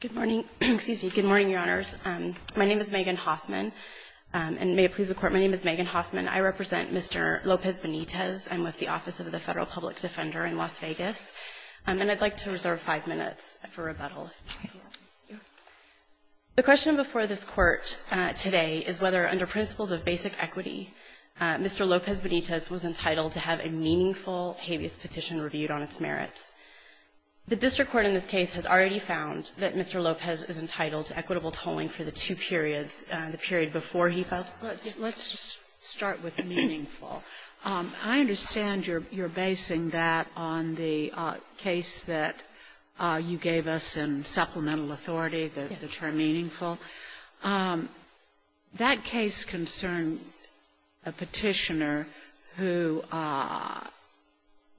Good morning, Your Honors. My name is Megan Hoffman, and may it please the Court, my name is Megan Hoffman. I represent Mr. Lopes-Benitez. I'm with the Office of the Federal Public Defender in Las Vegas, and I'd like to reserve five minutes for rebuttal. The question before this Court today is whether, under principles of basic equity, Mr. Lopes-Benitez was entitled to have a meaningful habeas petition reviewed on its already found that Mr. Lopes is entitled to equitable tolling for the two periods, the period before he filed. Let's just start with meaningful. I understand you're basing that on the case that you gave us in Supplemental Authority, the term meaningful. That case concerned a petitioner who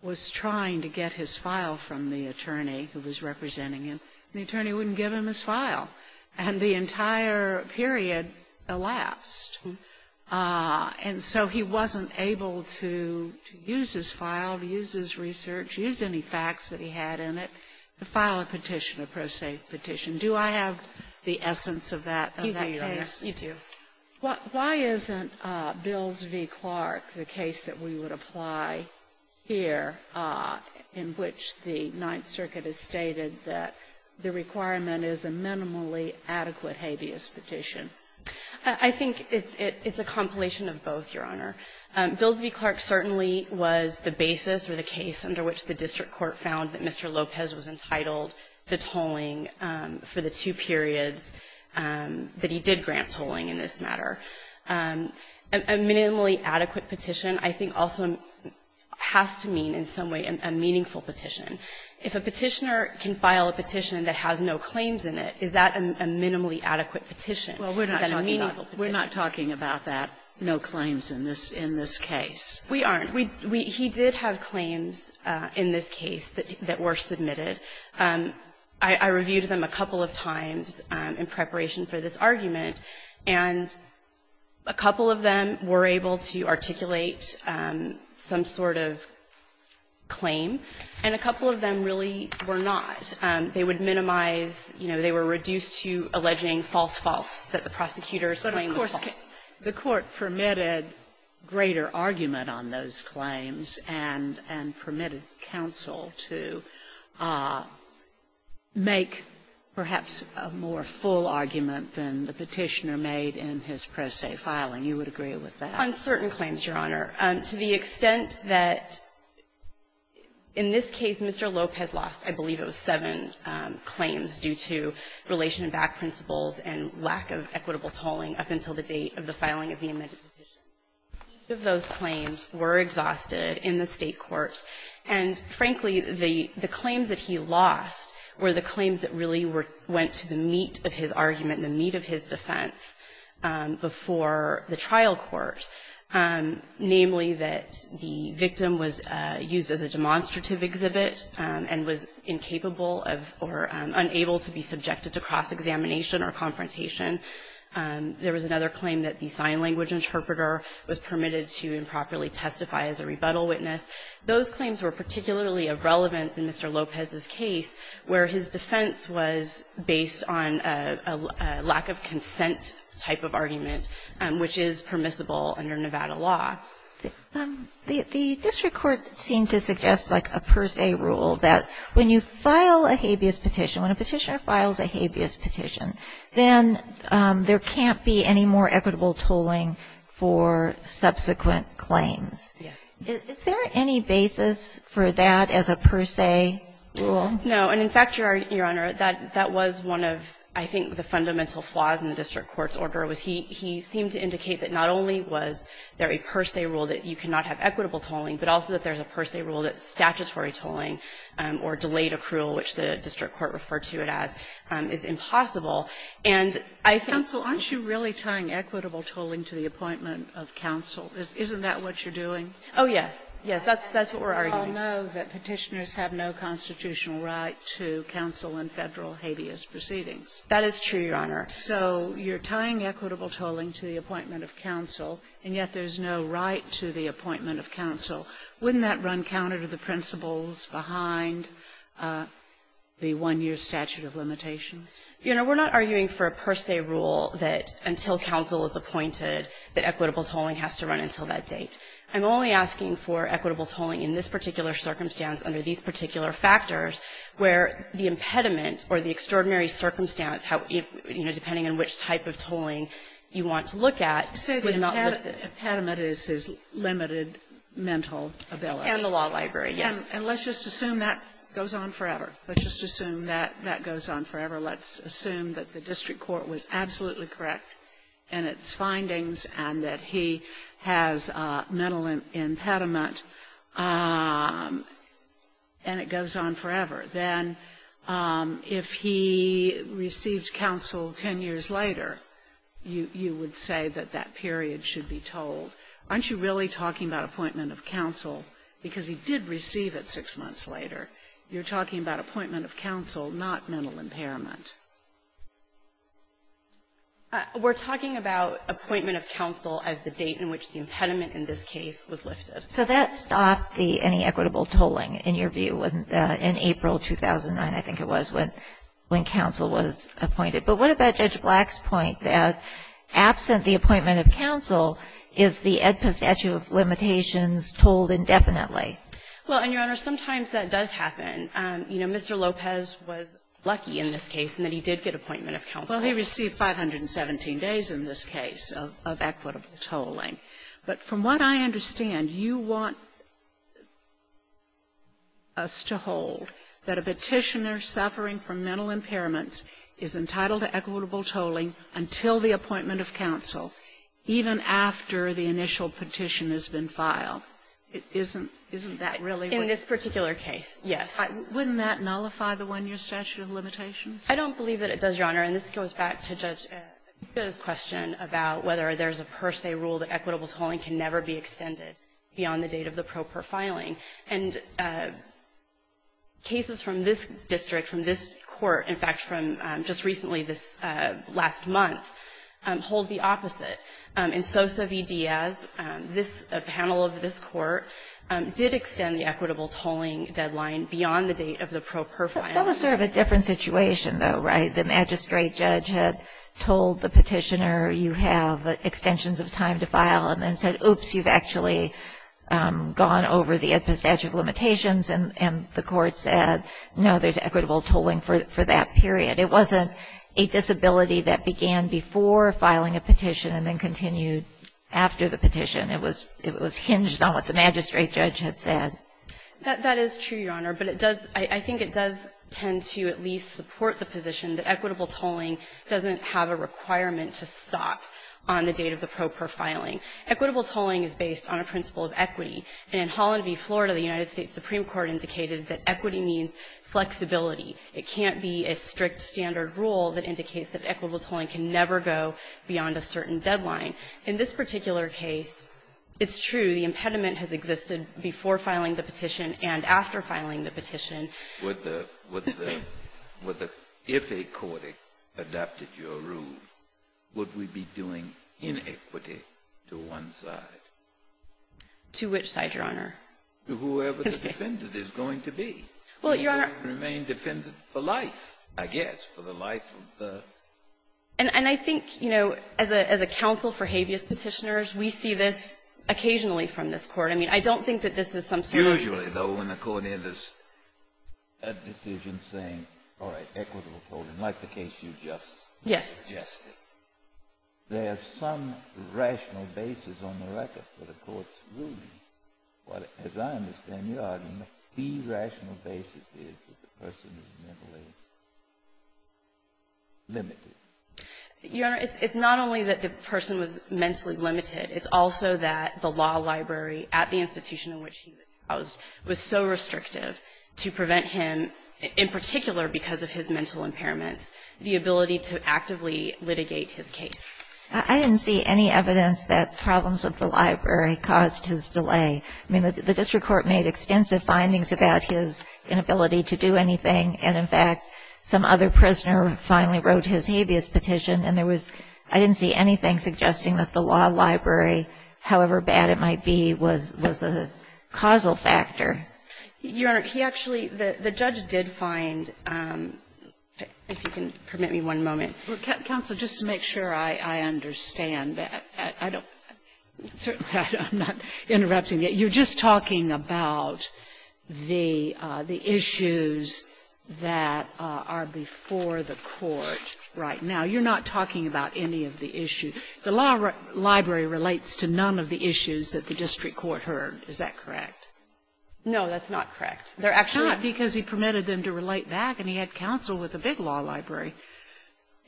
was trying to get his file from the attorney who was representing him. The attorney wouldn't give him his file, and the entire period elapsed. And so he wasn't able to use his file, to use his research, use any facts that he had in it, to file a petition, a pro se petition. Do I have the essence of that case? You do, Your Honor. You do. Why isn't Bills v. Clark the case that we would apply here in which the Ninth Circuit has stated that the requirement is a minimally adequate habeas petition? I think it's a compilation of both, Your Honor. Bills v. Clark certainly was the basis or the case under which the district court found that Mr. Lopes was entitled to tolling for the two periods that he did grant tolling in this matter. A minimally adequate petition I think also has to mean in some way a meaningful petition. If a petitioner can file a petition that has no claims in it, is that a minimally adequate petition? Is that a meaningful petition? Well, we're not talking about that, no claims in this case. We aren't. He did have claims in this case that were submitted. I reviewed them a couple of times in preparation for this argument, and a couple of them were able to articulate some sort of claim, and a couple of them really were not. They would minimize, you know, they were reduced to alleging false, false, that the prosecutor's claim was false. But of course, the Court permitted greater argument on those claims and permitted counsel to make perhaps a more full argument than the petitioner made in his pro se filing. You would agree with that? On certain claims, Your Honor, to the extent that in this case Mr. Lopez lost, I believe, it was seven claims due to relation-backed principles and lack of equitable tolling up until the date of the filing of the amended petition. Those claims were exhausted in the State courts, and frankly, the claims that he lost were the claims that really went to the meat of his argument, the meat of his defense before the trial court, namely that the victim was used as a demonstrative exhibit and was incapable of or unable to be subjected to cross-examination or confrontation. There was another claim that the sign language interpreter was permitted to improperly testify as a rebuttal witness. Those claims were particularly of relevance in Mr. Lopez's case, where his defense was based on a lack-of-consent type of argument, which is permissible under Nevada law. The district court seemed to suggest like a per se rule that when you file a habeas petition, when a petitioner files a habeas petition, then there can't be any more equitable tolling for subsequent claims. Yes. Is there any basis for that as a per se rule? No. And in fact, Your Honor, that was one of, I think, the fundamental flaws in the district court's order, was he seemed to indicate that not only was there a per se rule that you cannot have equitable tolling, but also that there's a per se rule that statutory tolling or delayed accrual, which the district court referred to it as, is impossible. And I think this is the case that the district court found to be the case, and I think to counsel in federal habeas proceedings. That is true, Your Honor. So you're tying equitable tolling to the appointment of counsel, and yet there's no right to the appointment of counsel. Wouldn't that run counter to the principles behind the one-year statute of limitations? You know, we're not arguing for a per se rule that until counsel is appointed, that equitable tolling has to run until that date. I'm only asking for equitable tolling in this particular circumstance under these particular factors, where the impediment or the extraordinary circumstance, how, you know, depending on which type of tolling you want to look at. Say the impediment is his limited mental ability. And the law library, yes. And let's just assume that goes on forever. Let's just assume that that goes on forever. Let's assume that the district court was absolutely correct in its findings, and that he has mental impediment, and it goes on forever. Then if he received counsel 10 years later, you would say that that period should be tolled. Aren't you really talking about appointment of counsel? Because he did receive it six months later. You're talking about appointment of counsel, not mental impairment. We're talking about appointment of counsel as the date in which the impediment in this case was lifted. So that stopped the any equitable tolling, in your view, in April 2009, I think it was, when counsel was appointed. But what about Judge Black's point that absent the appointment of counsel, is the AEDPA statute of limitations tolled indefinitely? Well, and, Your Honor, sometimes that does happen. You know, Mr. Lopez was lucky in this case. And then he did get appointment of counsel. Well, he received 517 days in this case of equitable tolling. But from what I understand, you want us to hold that a Petitioner suffering from mental impairments is entitled to equitable tolling until the appointment of counsel, even after the initial petition has been filed. Isn't that really what you're saying? In this particular case, yes. Wouldn't that nullify the one-year statute of limitations? I don't believe that it does, Your Honor. And this goes back to Judge AEDPA's question about whether there's a per se rule that equitable tolling can never be extended beyond the date of the pro per filing. And cases from this district, from this Court, in fact, from just recently, this last month, hold the opposite. In Sosa v. Diaz, this panel of this Court did extend the equitable tolling deadline beyond the date of the pro per filing. That was sort of a different situation, though, right? The magistrate judge had told the Petitioner you have extensions of time to file and then said, oops, you've actually gone over the statute of limitations. And the Court said, no, there's equitable tolling for that period. It wasn't a disability that began before filing a petition and then continued after the petition. It was hinged on what the magistrate judge had said. That is true, Your Honor. But it does – I think it does tend to at least support the position that equitable tolling doesn't have a requirement to stop on the date of the pro per filing. Equitable tolling is based on a principle of equity. And in Holland v. Florida, the United States Supreme Court indicated that equity means flexibility. It can't be a strict standard rule that indicates that equitable tolling can never go beyond a certain deadline. In this particular case, it's true. The impediment has existed before filing the petition and after filing the petition. Kennedy, if a court adopted your rule, would we be doing inequity to one side? To which side, Your Honor? To whoever the defendant is going to be. Well, Your Honor — Remain defendant for life, I guess, for the life of the — And I think, you know, as a counsel for habeas Petitioners, we see this occasionally from this Court. I mean, I don't think that this is some sort of — Usually, though, when a court enters a decision saying, all right, equitable tolling, like the case you just suggested, there is some rational basis on the record for the court's ruling. As I understand your argument, the rational basis is that the person is mentally limited. Your Honor, it's not only that the person was mentally limited. It's also that the law library at the institution in which he was housed was so restrictive to prevent him, in particular because of his mental impairments, the ability to actively litigate his case. I didn't see any evidence that problems with the library caused his delay. I mean, the district court made extensive findings about his inability to do anything, and in fact, some other prisoner finally wrote his habeas petition, and there was — I didn't see anything suggesting that the law library, however bad it might be, was a causal factor. Your Honor, he actually — the judge did find — if you can permit me one moment. Counsel, just to make sure I understand, I don't — certainly I'm not interrupting you. You're just talking about the issues that are before the Court right now. You're not talking about any of the issues. The law library relates to none of the issues that the district court heard. Is that correct? No, that's not correct. They're actually — Not because he permitted them to relate back, and he had counsel with a big law library.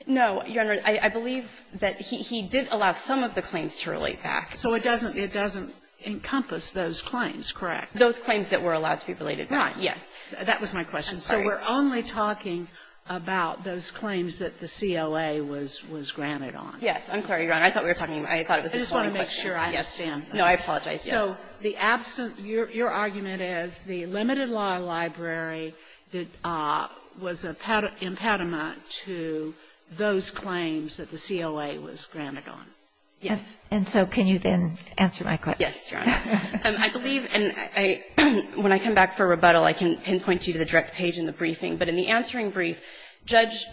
No, Your Honor, I believe that he did allow some of the claims to relate back. So it doesn't encompass those claims, correct? Those claims that were allowed to be related back, yes. That was my question. So we're only talking about those claims that the COA was granted on. Yes. I'm sorry, Your Honor. I thought we were talking — I thought it was the same question. I just want to make sure I understand. No, I apologize. So the absent — your argument is the limited law library was an impediment to those claims that the COA was granted on. Yes. And so can you then answer my question? Yes, Your Honor. I believe — and when I come back for rebuttal, I can pinpoint you to the direct page in the briefing. But in the answering brief, Judge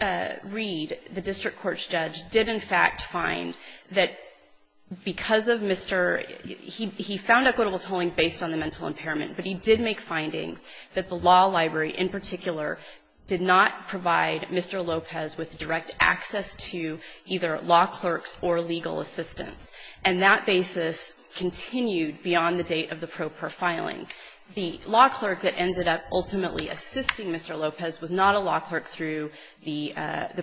Reed, the district court's judge, did, in fact, find that because of Mr. — he found equitable tolling based on the mental impairment, but he did make findings that the law library in particular did not provide Mr. Lopez with direct access to either law clerks or legal assistants. And that basis continued beyond the date of the pro per filing. The law clerk that ended up ultimately assisting Mr. Lopez was not a law clerk through the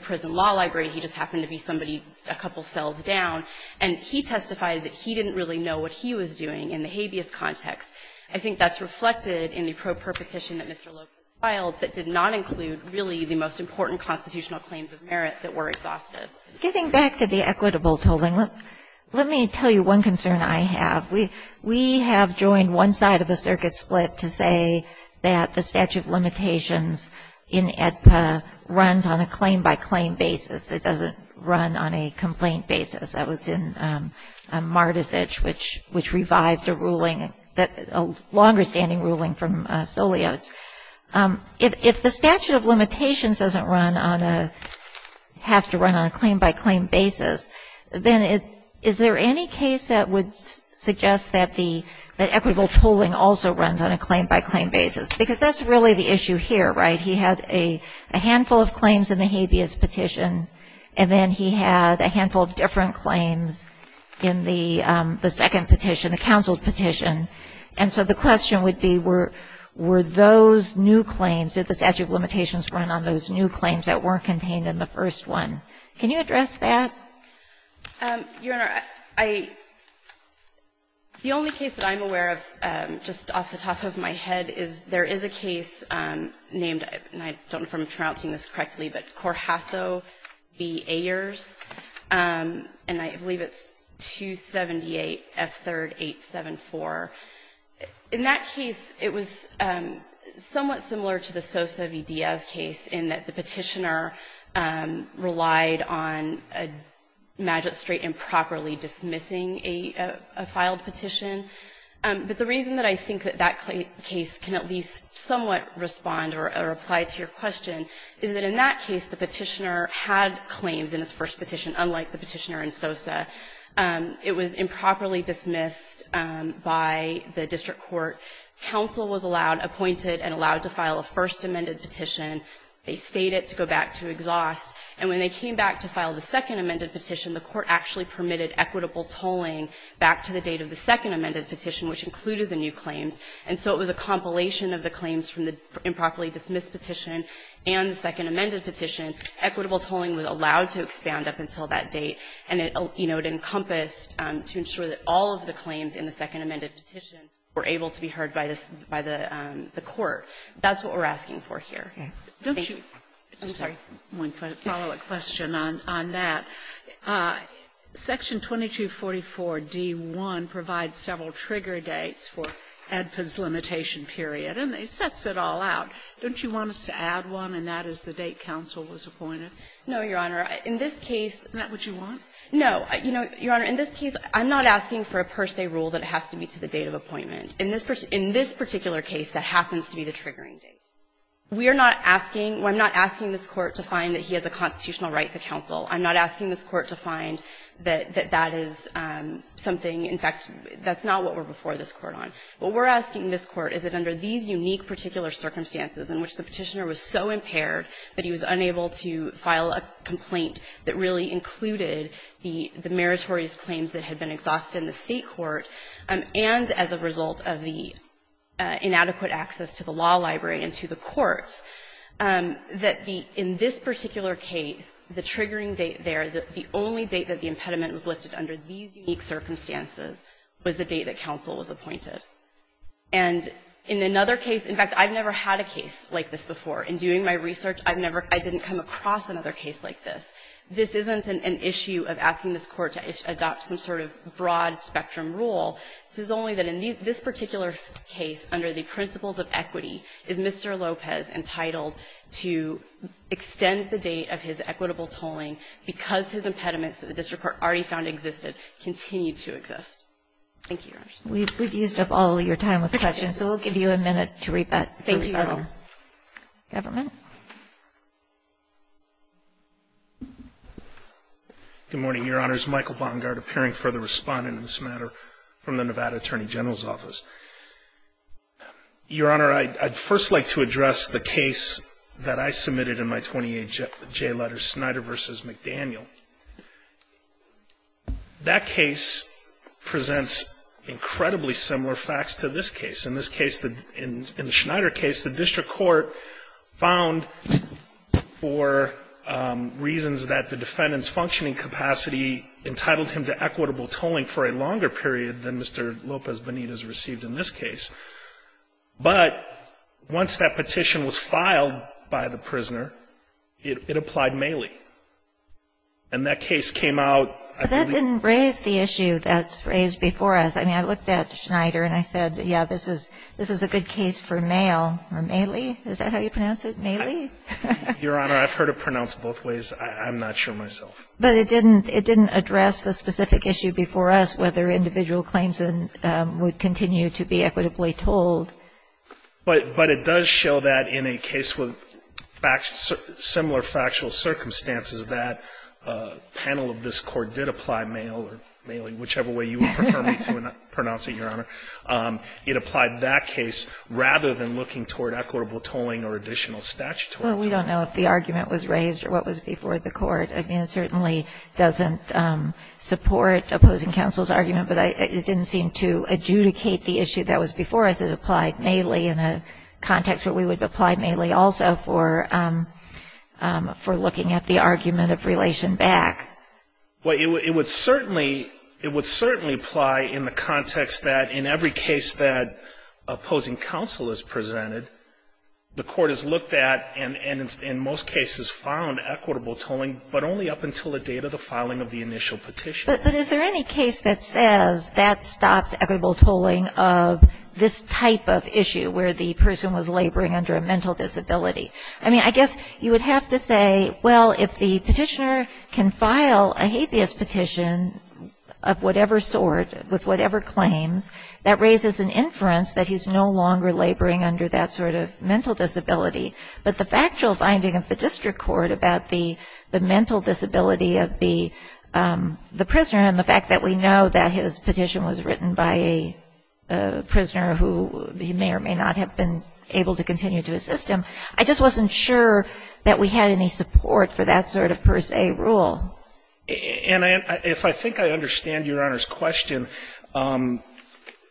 prison law library. He just happened to be somebody — a couple cells down. And he testified that he didn't really know what he was doing in the habeas context. I think that's reflected in the pro per petition that Mr. Lopez filed that did not include really the most important constitutional claims of merit that were exhausted. Getting back to the equitable tolling, let me tell you one concern I have. We have joined one side of the circuit split to say that the statute of limitations in AEDPA runs on a claim-by-claim basis. It doesn't run on a complaint basis. That was in Marticich, which revived a ruling — a longer-standing ruling from Solios. If the statute of limitations doesn't run on a — has to run on a claim-by-claim basis, then is there any case that would suggest that the equitable tolling also runs on a claim-by-claim basis? Because that's really the issue here, right? He had a handful of claims in the habeas petition, and then he had a handful of different claims in the second petition, the counsel petition. And so the question would be, were those new claims, did the statute of limitations run on those new claims that weren't contained in the first one? Can you address that? Your Honor, I — the only case that I'm aware of, just off the top of my head, is there is a case named — and I don't know if I'm pronouncing this correctly, but Corjasso v. Ayers, and I believe it's 278 F3rd 874. In that case, it was somewhat similar to the Sosa v. Diaz case in that the petitioner relied on a magistrate improperly dismissing a — a filed petition. But the reason that I think that that case can at least somewhat respond or apply to your question is that in that case, the petitioner had claims in his first petition, unlike the petitioner in Sosa. It was improperly dismissed by the district court. Counsel was allowed — appointed and allowed to file a first amended petition. They stayed it to go back to exhaust. And when they came back to file the second amended petition, the court actually permitted equitable tolling back to the date of the second amended petition, which included the new claims. And so it was a compilation of the claims from the improperly dismissed petition and the second amended petition. Equitable tolling was allowed to expand up until that date. And it, you know, it encompassed to ensure that all of the claims in the second amended petition were able to be heard by this — by the court. That's what we're asking for here. Sotomayor, I'm sorry, one follow-up question on that. Section 2244d.1 provides several trigger dates for Edpin's limitation period. And it sets it all out. Don't you want us to add one, and that is the date counsel was appointed? No, Your Honor. In this case — Isn't that what you want? No. You know, Your Honor, in this case, I'm not asking for a per se rule that has to be to the date of appointment. In this particular case, that happens to be the triggering date. We are not asking — I'm not asking this Court to find that he has a constitutional right to counsel. I'm not asking this Court to find that that is something — in fact, that's not what we're before this Court on. What we're asking this Court is that under these unique particular circumstances in which the Petitioner was so impaired that he was unable to file a complaint that really included the meritorious claims that had been exhausted in the State court, and as a result of the inadequate access to the law library and to the courts, And in another case — in fact, I've never had a case like this before. In doing my research, I've never — I didn't come across another case like this. This isn't an issue of asking this Court to adopt some sort of broad-spectrum rule. This is only that in this particular case, under the principles of equity, is Mr. Because his impediments that the district court already found existed, continue to exist. Thank you, Your Honor. We've used up all of your time with questions, so we'll give you a minute to rebut. Thank you, Your Honor. Government? Good morning, Your Honors. Michael Bongard, appearing for the Respondent in this matter from the Nevada Attorney General's Office. Your Honor, I'd first like to address the case that I submitted in my 28J letter, Schneider v. McDaniel. That case presents incredibly similar facts to this case. In this case, in the Schneider case, the district court found for reasons that the defendant's functioning capacity entitled him to equitable tolling for a longer period than Mr. Lopez-Benitez received in this case, but once that petition was submitted, the district court found that the defendant's capacity to equitable tolling was not the same as Mr. Lopez-Benitez. And that case came out. But that didn't raise the issue that's raised before us. I mean, I looked at Schneider and I said, yeah, this is a good case for Mayle. Or May-lee? Is that how you pronounce it? May-lee? Your Honor, I've heard it pronounced both ways. I'm not sure myself. But it didn't address the specific issue before us, whether individual claims would continue to be equitably tolled. But it does show that in a case with similar factual circumstances, that panel of this court did apply Mayle or May-lee, whichever way you would prefer me to pronounce it, Your Honor. It applied that case rather than looking toward equitable tolling or additional statutory tolling. Well, we don't know if the argument was raised or what was before the Court. I mean, it certainly doesn't support opposing counsel's argument. But it didn't seem to adjudicate the issue that was before us. It applied May-lee in a context where we would apply May-lee also for looking at the argument of relation back. Well, it would certainly apply in the context that in every case that opposing counsel is presented, the Court has looked at and in most cases found equitable tolling, but only up until the date of the filing of the initial petition. But is there any case that says that stops equitable tolling of this type of issue where the person was laboring under a mental disability? I mean, I guess you would have to say, well, if the petitioner can file a habeas petition of whatever sort, with whatever claims, that raises an inference that he's no longer laboring under that sort of mental disability. But the factual finding of the District Court about the mental disability of the prisoner and the fact that we know that his petition was written by a prisoner who he may or may not have been able to continue to assist him, I just wasn't sure that we had any support for that sort of per se rule. And if I think I understand Your Honor's question,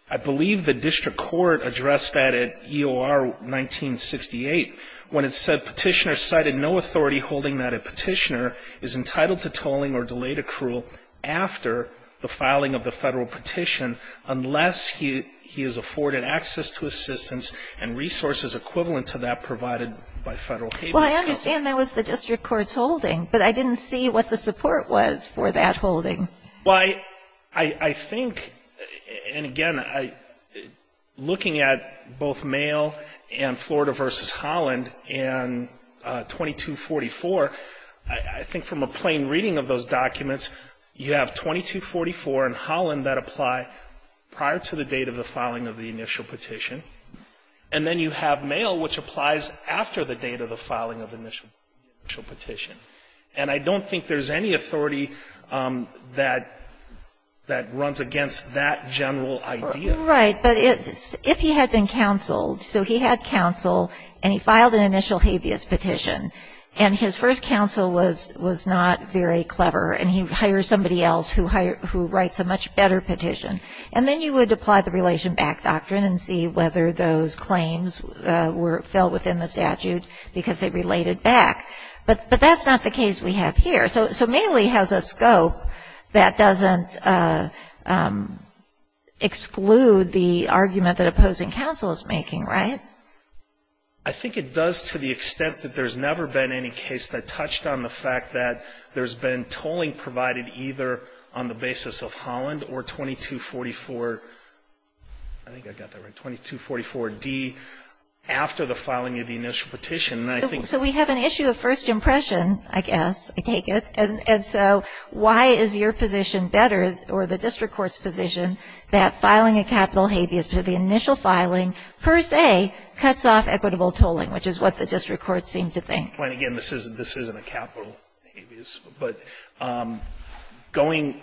I believe the District Court addressed that at EOR 1968 when it said petitioner cited no authority holding that a petitioner is entitled to tolling or delayed accrual after the filing of the federal petition unless he has afforded access to assistance and resources equivalent to that provided by federal habeas counsel. Well, I understand that was the District Court's holding, but I didn't see what the support was for that holding. Well, I think, and again, looking at both Mayo and Florida v. Holland and 2244, I think from a plain reading of those documents, you have 2244 and Holland that apply prior to the date of the filing of the initial petition, and then you have Mayo which applies after the date of the filing of the initial petition. And I don't think there's any authority that runs against that general idea. Right. But if he had been counseled, so he had counsel and he filed an initial habeas petition, and his first counsel was not very clever and he hires somebody else who writes a much better petition, and then you would apply the relation back doctrine and see whether those claims fell within the statute because they related back. But that's not the case we have here. So Maley has a scope that doesn't exclude the argument that opposing counsel is making, right? I think it does to the extent that there's never been any case that touched on the fact that there's been tolling provided either on the basis of Holland or 2244, I think I got that right, 2244D after the filing of the initial petition. So we have an issue of first impression, I guess, I take it, and so why is your position better or the district court's position that filing a capital habeas petition, the initial filing, per se, cuts off equitable tolling, which is what the district courts seem to think? Again, this isn't a capital habeas, but going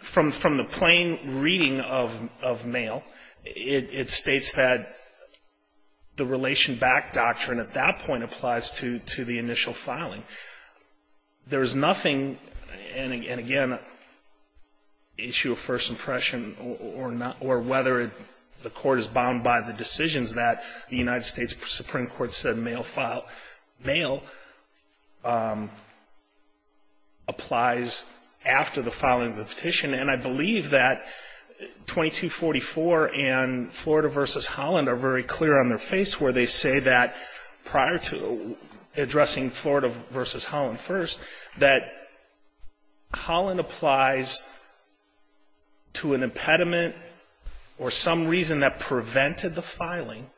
from the plain reading of Mayo, it states that the relation back doctrine at that point applies to the initial filing. There is nothing, and again, issue of first impression or whether the court is bound by the decisions that the United States Supreme Court said Mayo applies after the 2244 and Florida versus Holland are very clear on their face where they say that prior to addressing Florida versus Holland first, that Holland applies to an impediment or some reason that prevented the filing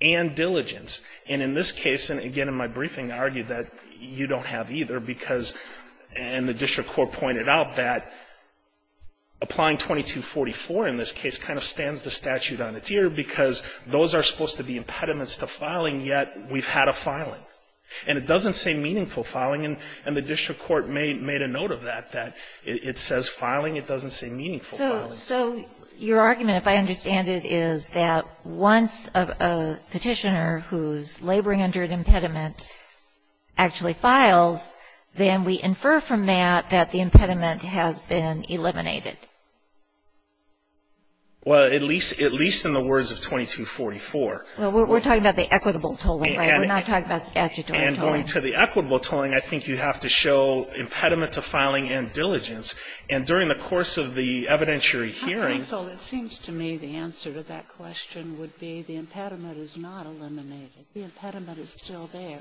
and diligence. And in this case, and again, in my briefing, I argued that you don't have either because, and the district court pointed out that applying 2244 in this case kind of stands the statute on its ear because those are supposed to be impediments to filing, yet we've had a filing. And it doesn't say meaningful filing, and the district court made a note of that, that it says filing, it doesn't say meaningful filing. So your argument, if I understand it, is that once a petitioner who's laboring under an impediment actually files, then we infer from that that the impediment has been eliminated. Well, at least in the words of 2244. Well, we're talking about the equitable tolling, right? We're not talking about statutory tolling. And going to the equitable tolling, I think you have to show impediment to filing and diligence. And during the course of the evidentiary hearing — Counsel, it seems to me the answer to that question would be the impediment is not eliminated. The impediment is still there.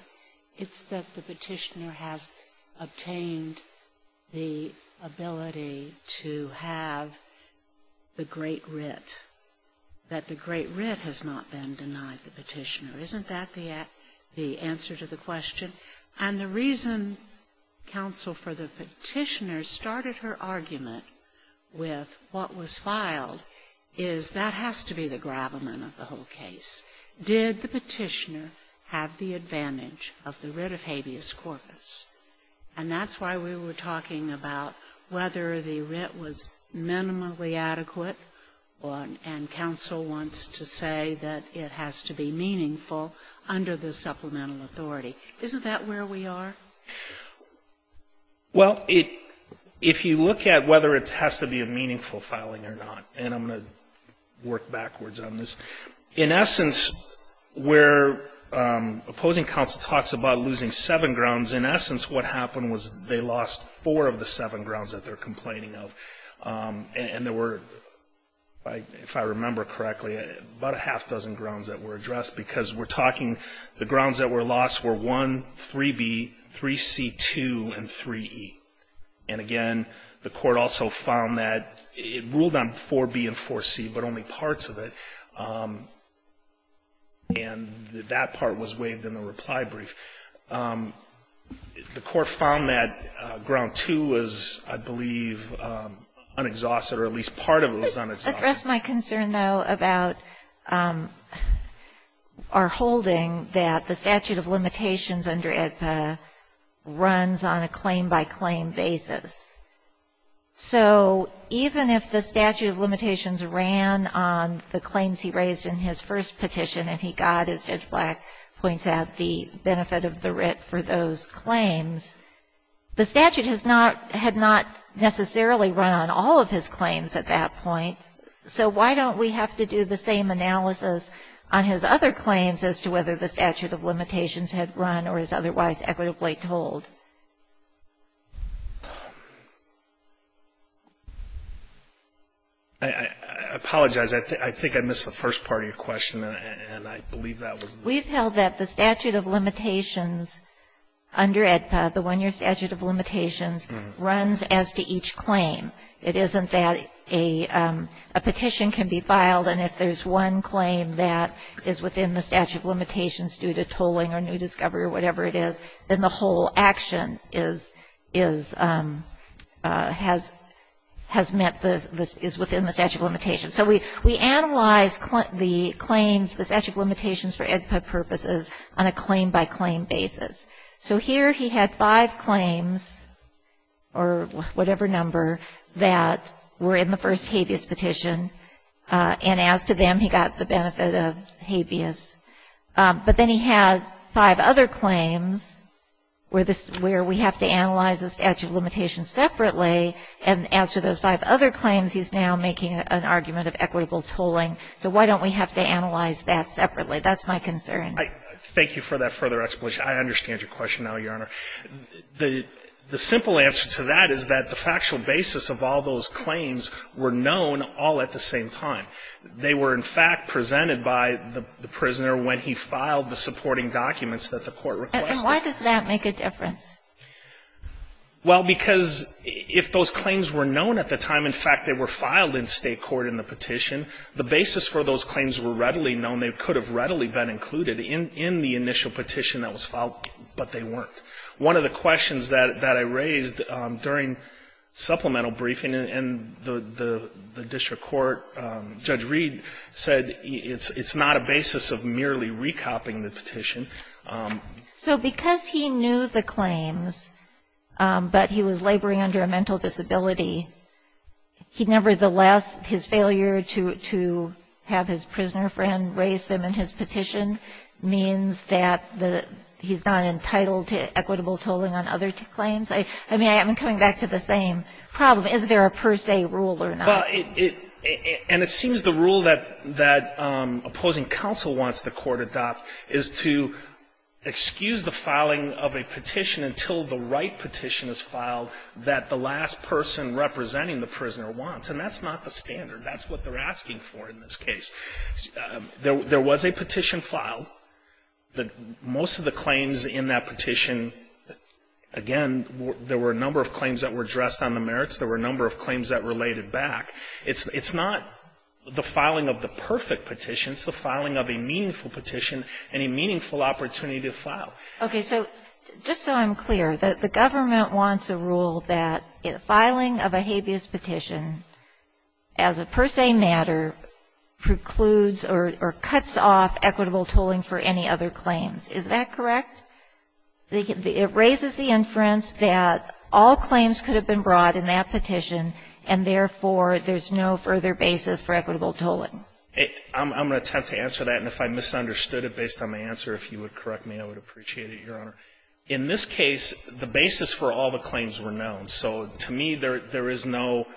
It's that the petitioner has obtained the ability to have the great writ, that the great writ has not been denied the petitioner. Isn't that the answer to the question? And the reason counsel, for the petitioner, started her argument with what was filed is that has to be the gravamen of the whole case. Did the petitioner have the advantage of the writ of habeas corpus? And that's why we were talking about whether the writ was minimally adequate and counsel wants to say that it has to be meaningful under the supplemental authority. Isn't that where we are? Well, it — if you look at whether it has to be a meaningful filing or not, and I'm going to work backwards on this. In essence, where opposing counsel talks about losing seven grounds, in essence, what happened was they lost four of the seven grounds that they're complaining of, and there were, if I remember correctly, about a half dozen grounds that were addressed because we're talking the grounds that were lost were 1, 3B, 3C, 2, and 3E. And again, the Court also found that it ruled on 4B and 4C, but only parts of it. And that part was waived in the reply brief. The Court found that ground 2 was, I believe, unexhausted, or at least part of it was unexhausted. Let me just address my concern, though, about our holding that the statute of limitations under AEDPA runs on a claim-by-claim basis. So even if the statute of limitations ran on the claims he recommended, and the claims he raised in his first petition, and he got, as Judge Black points out, the benefit of the writ for those claims, the statute has not, had not necessarily run on all of his claims at that point, so why don't we have to do the same analysis on his other claims as to whether the statute of limitations had run or is otherwise equitably told? I apologize. I think I missed the first part of your question, and I believe that was the question. We've held that the statute of limitations under AEDPA, the one-year statute of limitations, runs as to each claim. It isn't that a petition can be filed, and if there's one claim that is within the statute of limitations due to tolling or new discovery or whatever it is, then the whole action is, is, has, has met the, is within the statute of limitations. So we, we analyze the claims, the statute of limitations for AEDPA purposes on a claim-by-claim basis. So here he had five claims, or whatever number, that were in the first habeas petition, and as to them, he got the benefit of habeas. But then he had five other claims where this, where we have to analyze the statute of limitations separately, and as to those five other claims, he's now making an argument of equitable tolling. So why don't we have to analyze that separately? That's my concern. Thank you for that further explanation. I understand your question now, Your Honor. The, the simple answer to that is that the factual basis of all those claims were known all at the same time. They were, in fact, presented by the, the prisoner when he filed the supporting documents that the court requested. And why does that make a difference? Well, because if those claims were known at the time, in fact, they were filed in State court in the petition, the basis for those claims were readily known. They could have readily been included in, in the initial petition that was filed, but they weren't. One of the questions that, that I raised during supplemental briefing in, in the, the district court, Judge Reed said it's, it's not a basis of merely re-copying the petition. So because he knew the claims, but he was laboring under a mental disability, he nevertheless, his failure to, to have his prisoner friend raise them in his petition means that the, he's not entitled to equitable tolling on other claims? I mean, I'm coming back to the same problem. Is there a per se rule or not? Well, it, it, and it seems the rule that, that opposing counsel wants the court to adopt is to excuse the filing of a petition until the right petition is filed that the last person representing the prisoner wants. And that's not the standard. That's what they're asking for in this case. There, there was a petition filed. The, most of the claims in that petition, again, there were a number of claims that were addressed on the merits. There were a number of claims that related back. It's, it's not the filing of the perfect petition. It's the filing of a meaningful petition and a meaningful opportunity to file. Okay. So just so I'm clear, the, the government wants a rule that filing of a habeas petition as a per se matter precludes or, or cuts off equitable tolling for any other claims. Is that correct? It raises the inference that all claims could have been brought in that petition and therefore there's no further basis for equitable tolling. It, I'm, I'm going to attempt to answer that. And if I misunderstood it based on the answer, if you would correct me, I would appreciate it, Your Honor. In this case, the basis for all the claims were known. So to me, there, there is no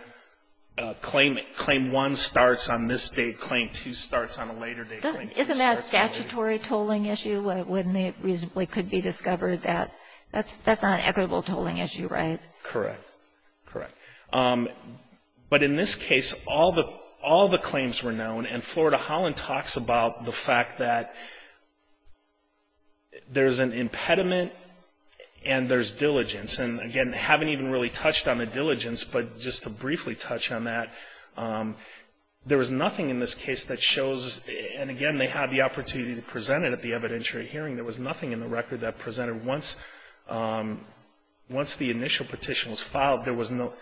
claim, claim one starts on this date, claim two starts on a later date. Isn't that a statutory tolling issue when it reasonably could be discovered that that's, that's not an equitable tolling issue, right? Correct. Correct. But in this case, all the, all the claims were known. And Florida Holland talks about the fact that there's an impediment and there's diligence. And again, haven't even really touched on the diligence. But just to briefly touch on that, there was nothing in this case that shows, and again, they had the opportunity to present it at the evidentiary hearing. There was nothing in the record that presented once, once the initial petition was filed, there was no,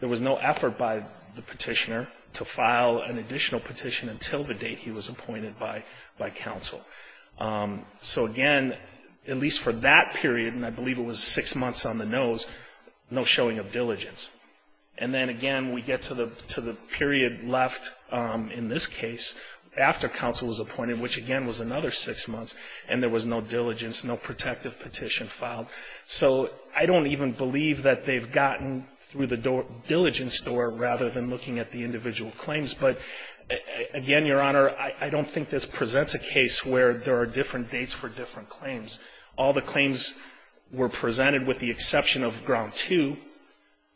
there was no effort by the petitioner to file an additional petition until the date he was appointed by, by counsel. So again, at least for that period, and I believe it was six months on the nose, no showing of diligence. And then again, we get to the, to the period left in this case after counsel was appointed, which again was another six months, and there was no diligence, no protective petition filed. So I don't even believe that they've gotten through the diligence door rather than looking at the individual claims. But again, Your Honor, I, I don't think this presents a case where there are different dates for different claims. All the claims were presented with the exception of ground two.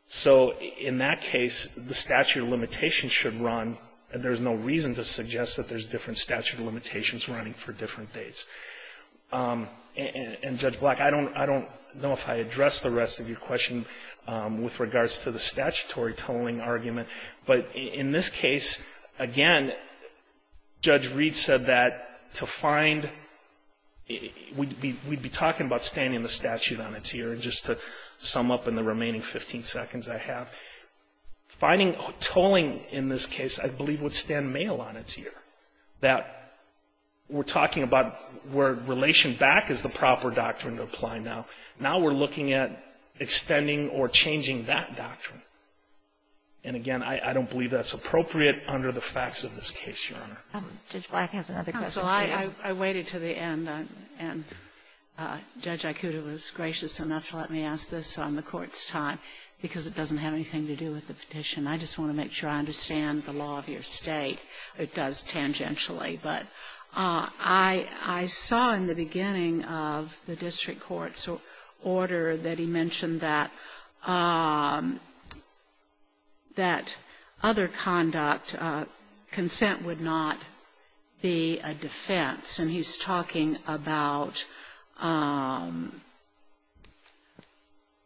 So in that case, the statute of limitations should run, and there's no reason to suggest that there's different statute of limitations running for different dates. And, and Judge Black, I don't, I don't know if I addressed the rest of your question with regards to the statutory tolling argument. But in this case, again, Judge Reed said that to find, it would be difficult to find, we'd be talking about standing the statute on its ear, and just to sum up in the remaining 15 seconds I have, finding tolling in this case I believe would stand male on its ear. That we're talking about where relation back is the proper doctrine to apply now. Now we're looking at extending or changing that doctrine. And again, I, I don't believe that's appropriate under the facts of this case, Your Honor. Kagan. Judge Black has another question for you. Black. Black. Black. Black. Black. defense, and he's talking about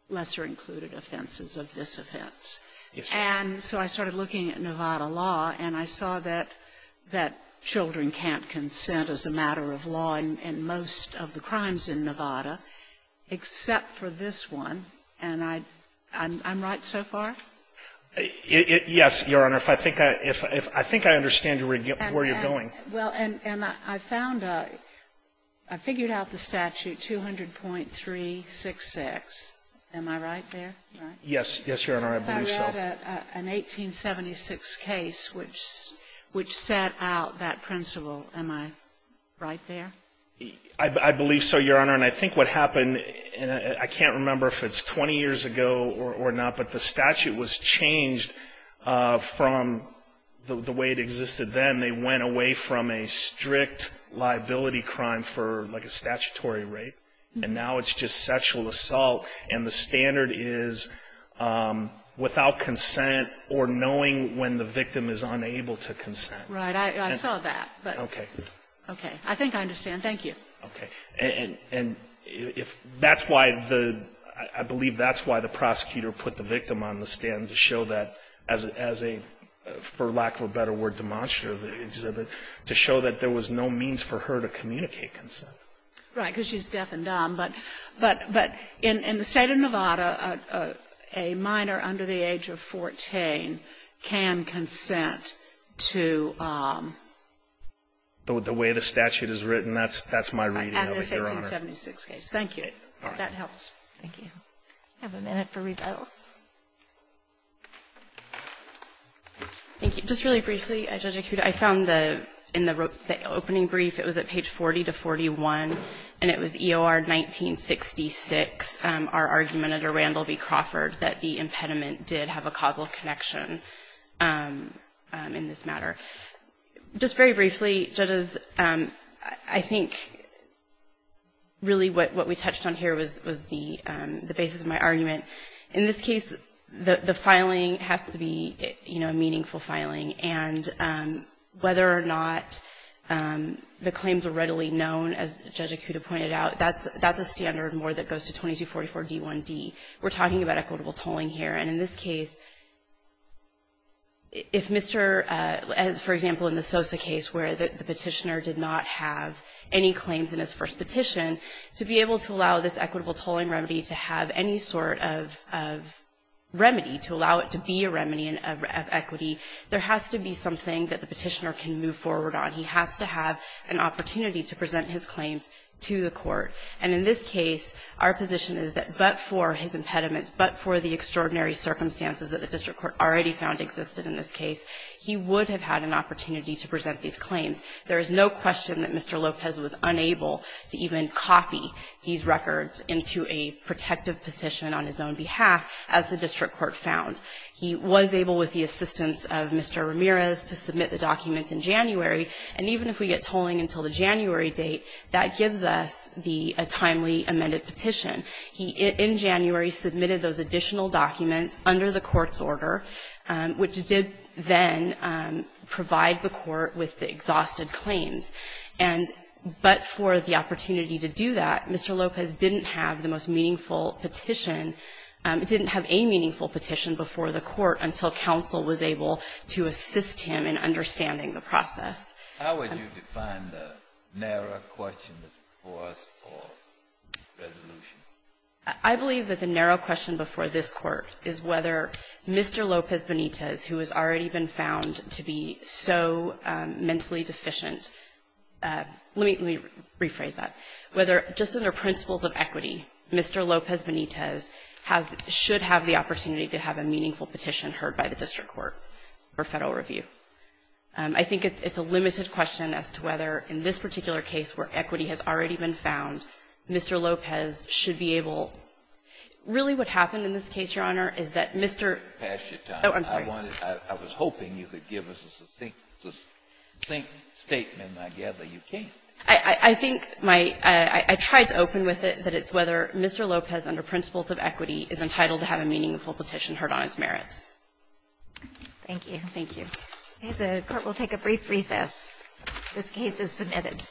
lesser-included offenses of this offense. And so I started looking at Nevada law, and I saw that, that children can't consent as a matter of law in, in most of the crimes in Nevada, except for this one. And I, I'm, I'm right so far? Yes, Your Honor. If I think I, if I think I understand where you're going. Well, and, and I found a, I figured out the statute, 200.366. Am I right there? Yes. Yes, Your Honor, I believe so. If I read an 1876 case which, which set out that principle, am I right there? I, I believe so, Your Honor. And I think what happened, and I can't remember if it's 20 years ago or, or not, but the statute was changed from the, the way it existed then. They went away from a strict liability crime for like a statutory rape, and now it's just sexual assault, and the standard is without consent or knowing when the victim is unable to consent. Right. I, I saw that, but. Okay. Okay. I think I understand. Thank you. And, and if, that's why the, I, I believe that's why the prosecutor put the victim on the stand to show that as, as a, for lack of a better word, demonstrative exhibit, to show that there was no means for her to communicate consent. Right, because she's deaf and dumb, but, but, but in, in the State of Nevada, a, a minor under the age of 14 can consent to. The, the way the statute is written, that's, that's my reading of it, Your Honor. At the 1776 case. Thank you. All right. If that helps. Thank you. I have a minute for rebuttal. Thank you. Just really briefly, Judge Acuda, I found the, in the opening brief, it was at page 40 to 41, and it was EOR 1966, our argument under Randle v. Crawford, that the impediment did have a causal connection in this matter. Just very briefly, judges, I think really what, what we touched on here was, was the, the basis of my argument. In this case, the, the filing has to be, you know, a meaningful filing. And whether or not the claims are readily known, as Judge Acuda pointed out, that's, that's a standard more that goes to 2244 D1D. We're talking about equitable tolling here. And in this case, if Mr., as, for example, in the Sosa case where the, the petitioner did not have any claims in his first petition, to be able to allow this equitable tolling remedy to have any sort of, of remedy, to allow it to be a remedy of equity, there has to be something that the petitioner can move forward on. He has to have an opportunity to present his claims to the court. And in this case, our position is that but for his impediments, but for the extraordinary circumstances that the district court already found existed in this case, he would have had an opportunity to present these claims. There is no question that Mr. Lopez was unable to even copy these records into a protective petition on his own behalf, as the district court found. He was able, with the assistance of Mr. Ramirez, to submit the documents in January. And even if we get tolling until the January date, that gives us the, a timely amended petition. He, in January, submitted those additional documents under the court's order, which did then provide the court with the exhausted claims. And but for the opportunity to do that, Mr. Lopez didn't have the most meaningful petition. It didn't have a meaningful petition before the court until counsel was able to assist him in understanding the process. How would you define the narrow question that's before us for resolution? I believe that the narrow question before this Court is whether Mr. Lopez Benitez, who has already been found to be so mentally deficient, let me rephrase that, whether just under principles of equity, Mr. Lopez Benitez has, should have the opportunity to have a meaningful petition heard by the district court or Federal review. I think it's a limited question as to whether, in this particular case where equity has already been found, Mr. Lopez should be able to really what happened in this case, Your Honor, is that Mr. Oh, I'm sorry. I was hoping you could give us a succinct, succinct statement, and I gather you can't. I think my, I tried to open with it, that it's whether Mr. Lopez, under principles of equity, is entitled to have a meaningful petition heard on his merits. Thank you. Thank you. The Court will take a brief recess. This case is submitted.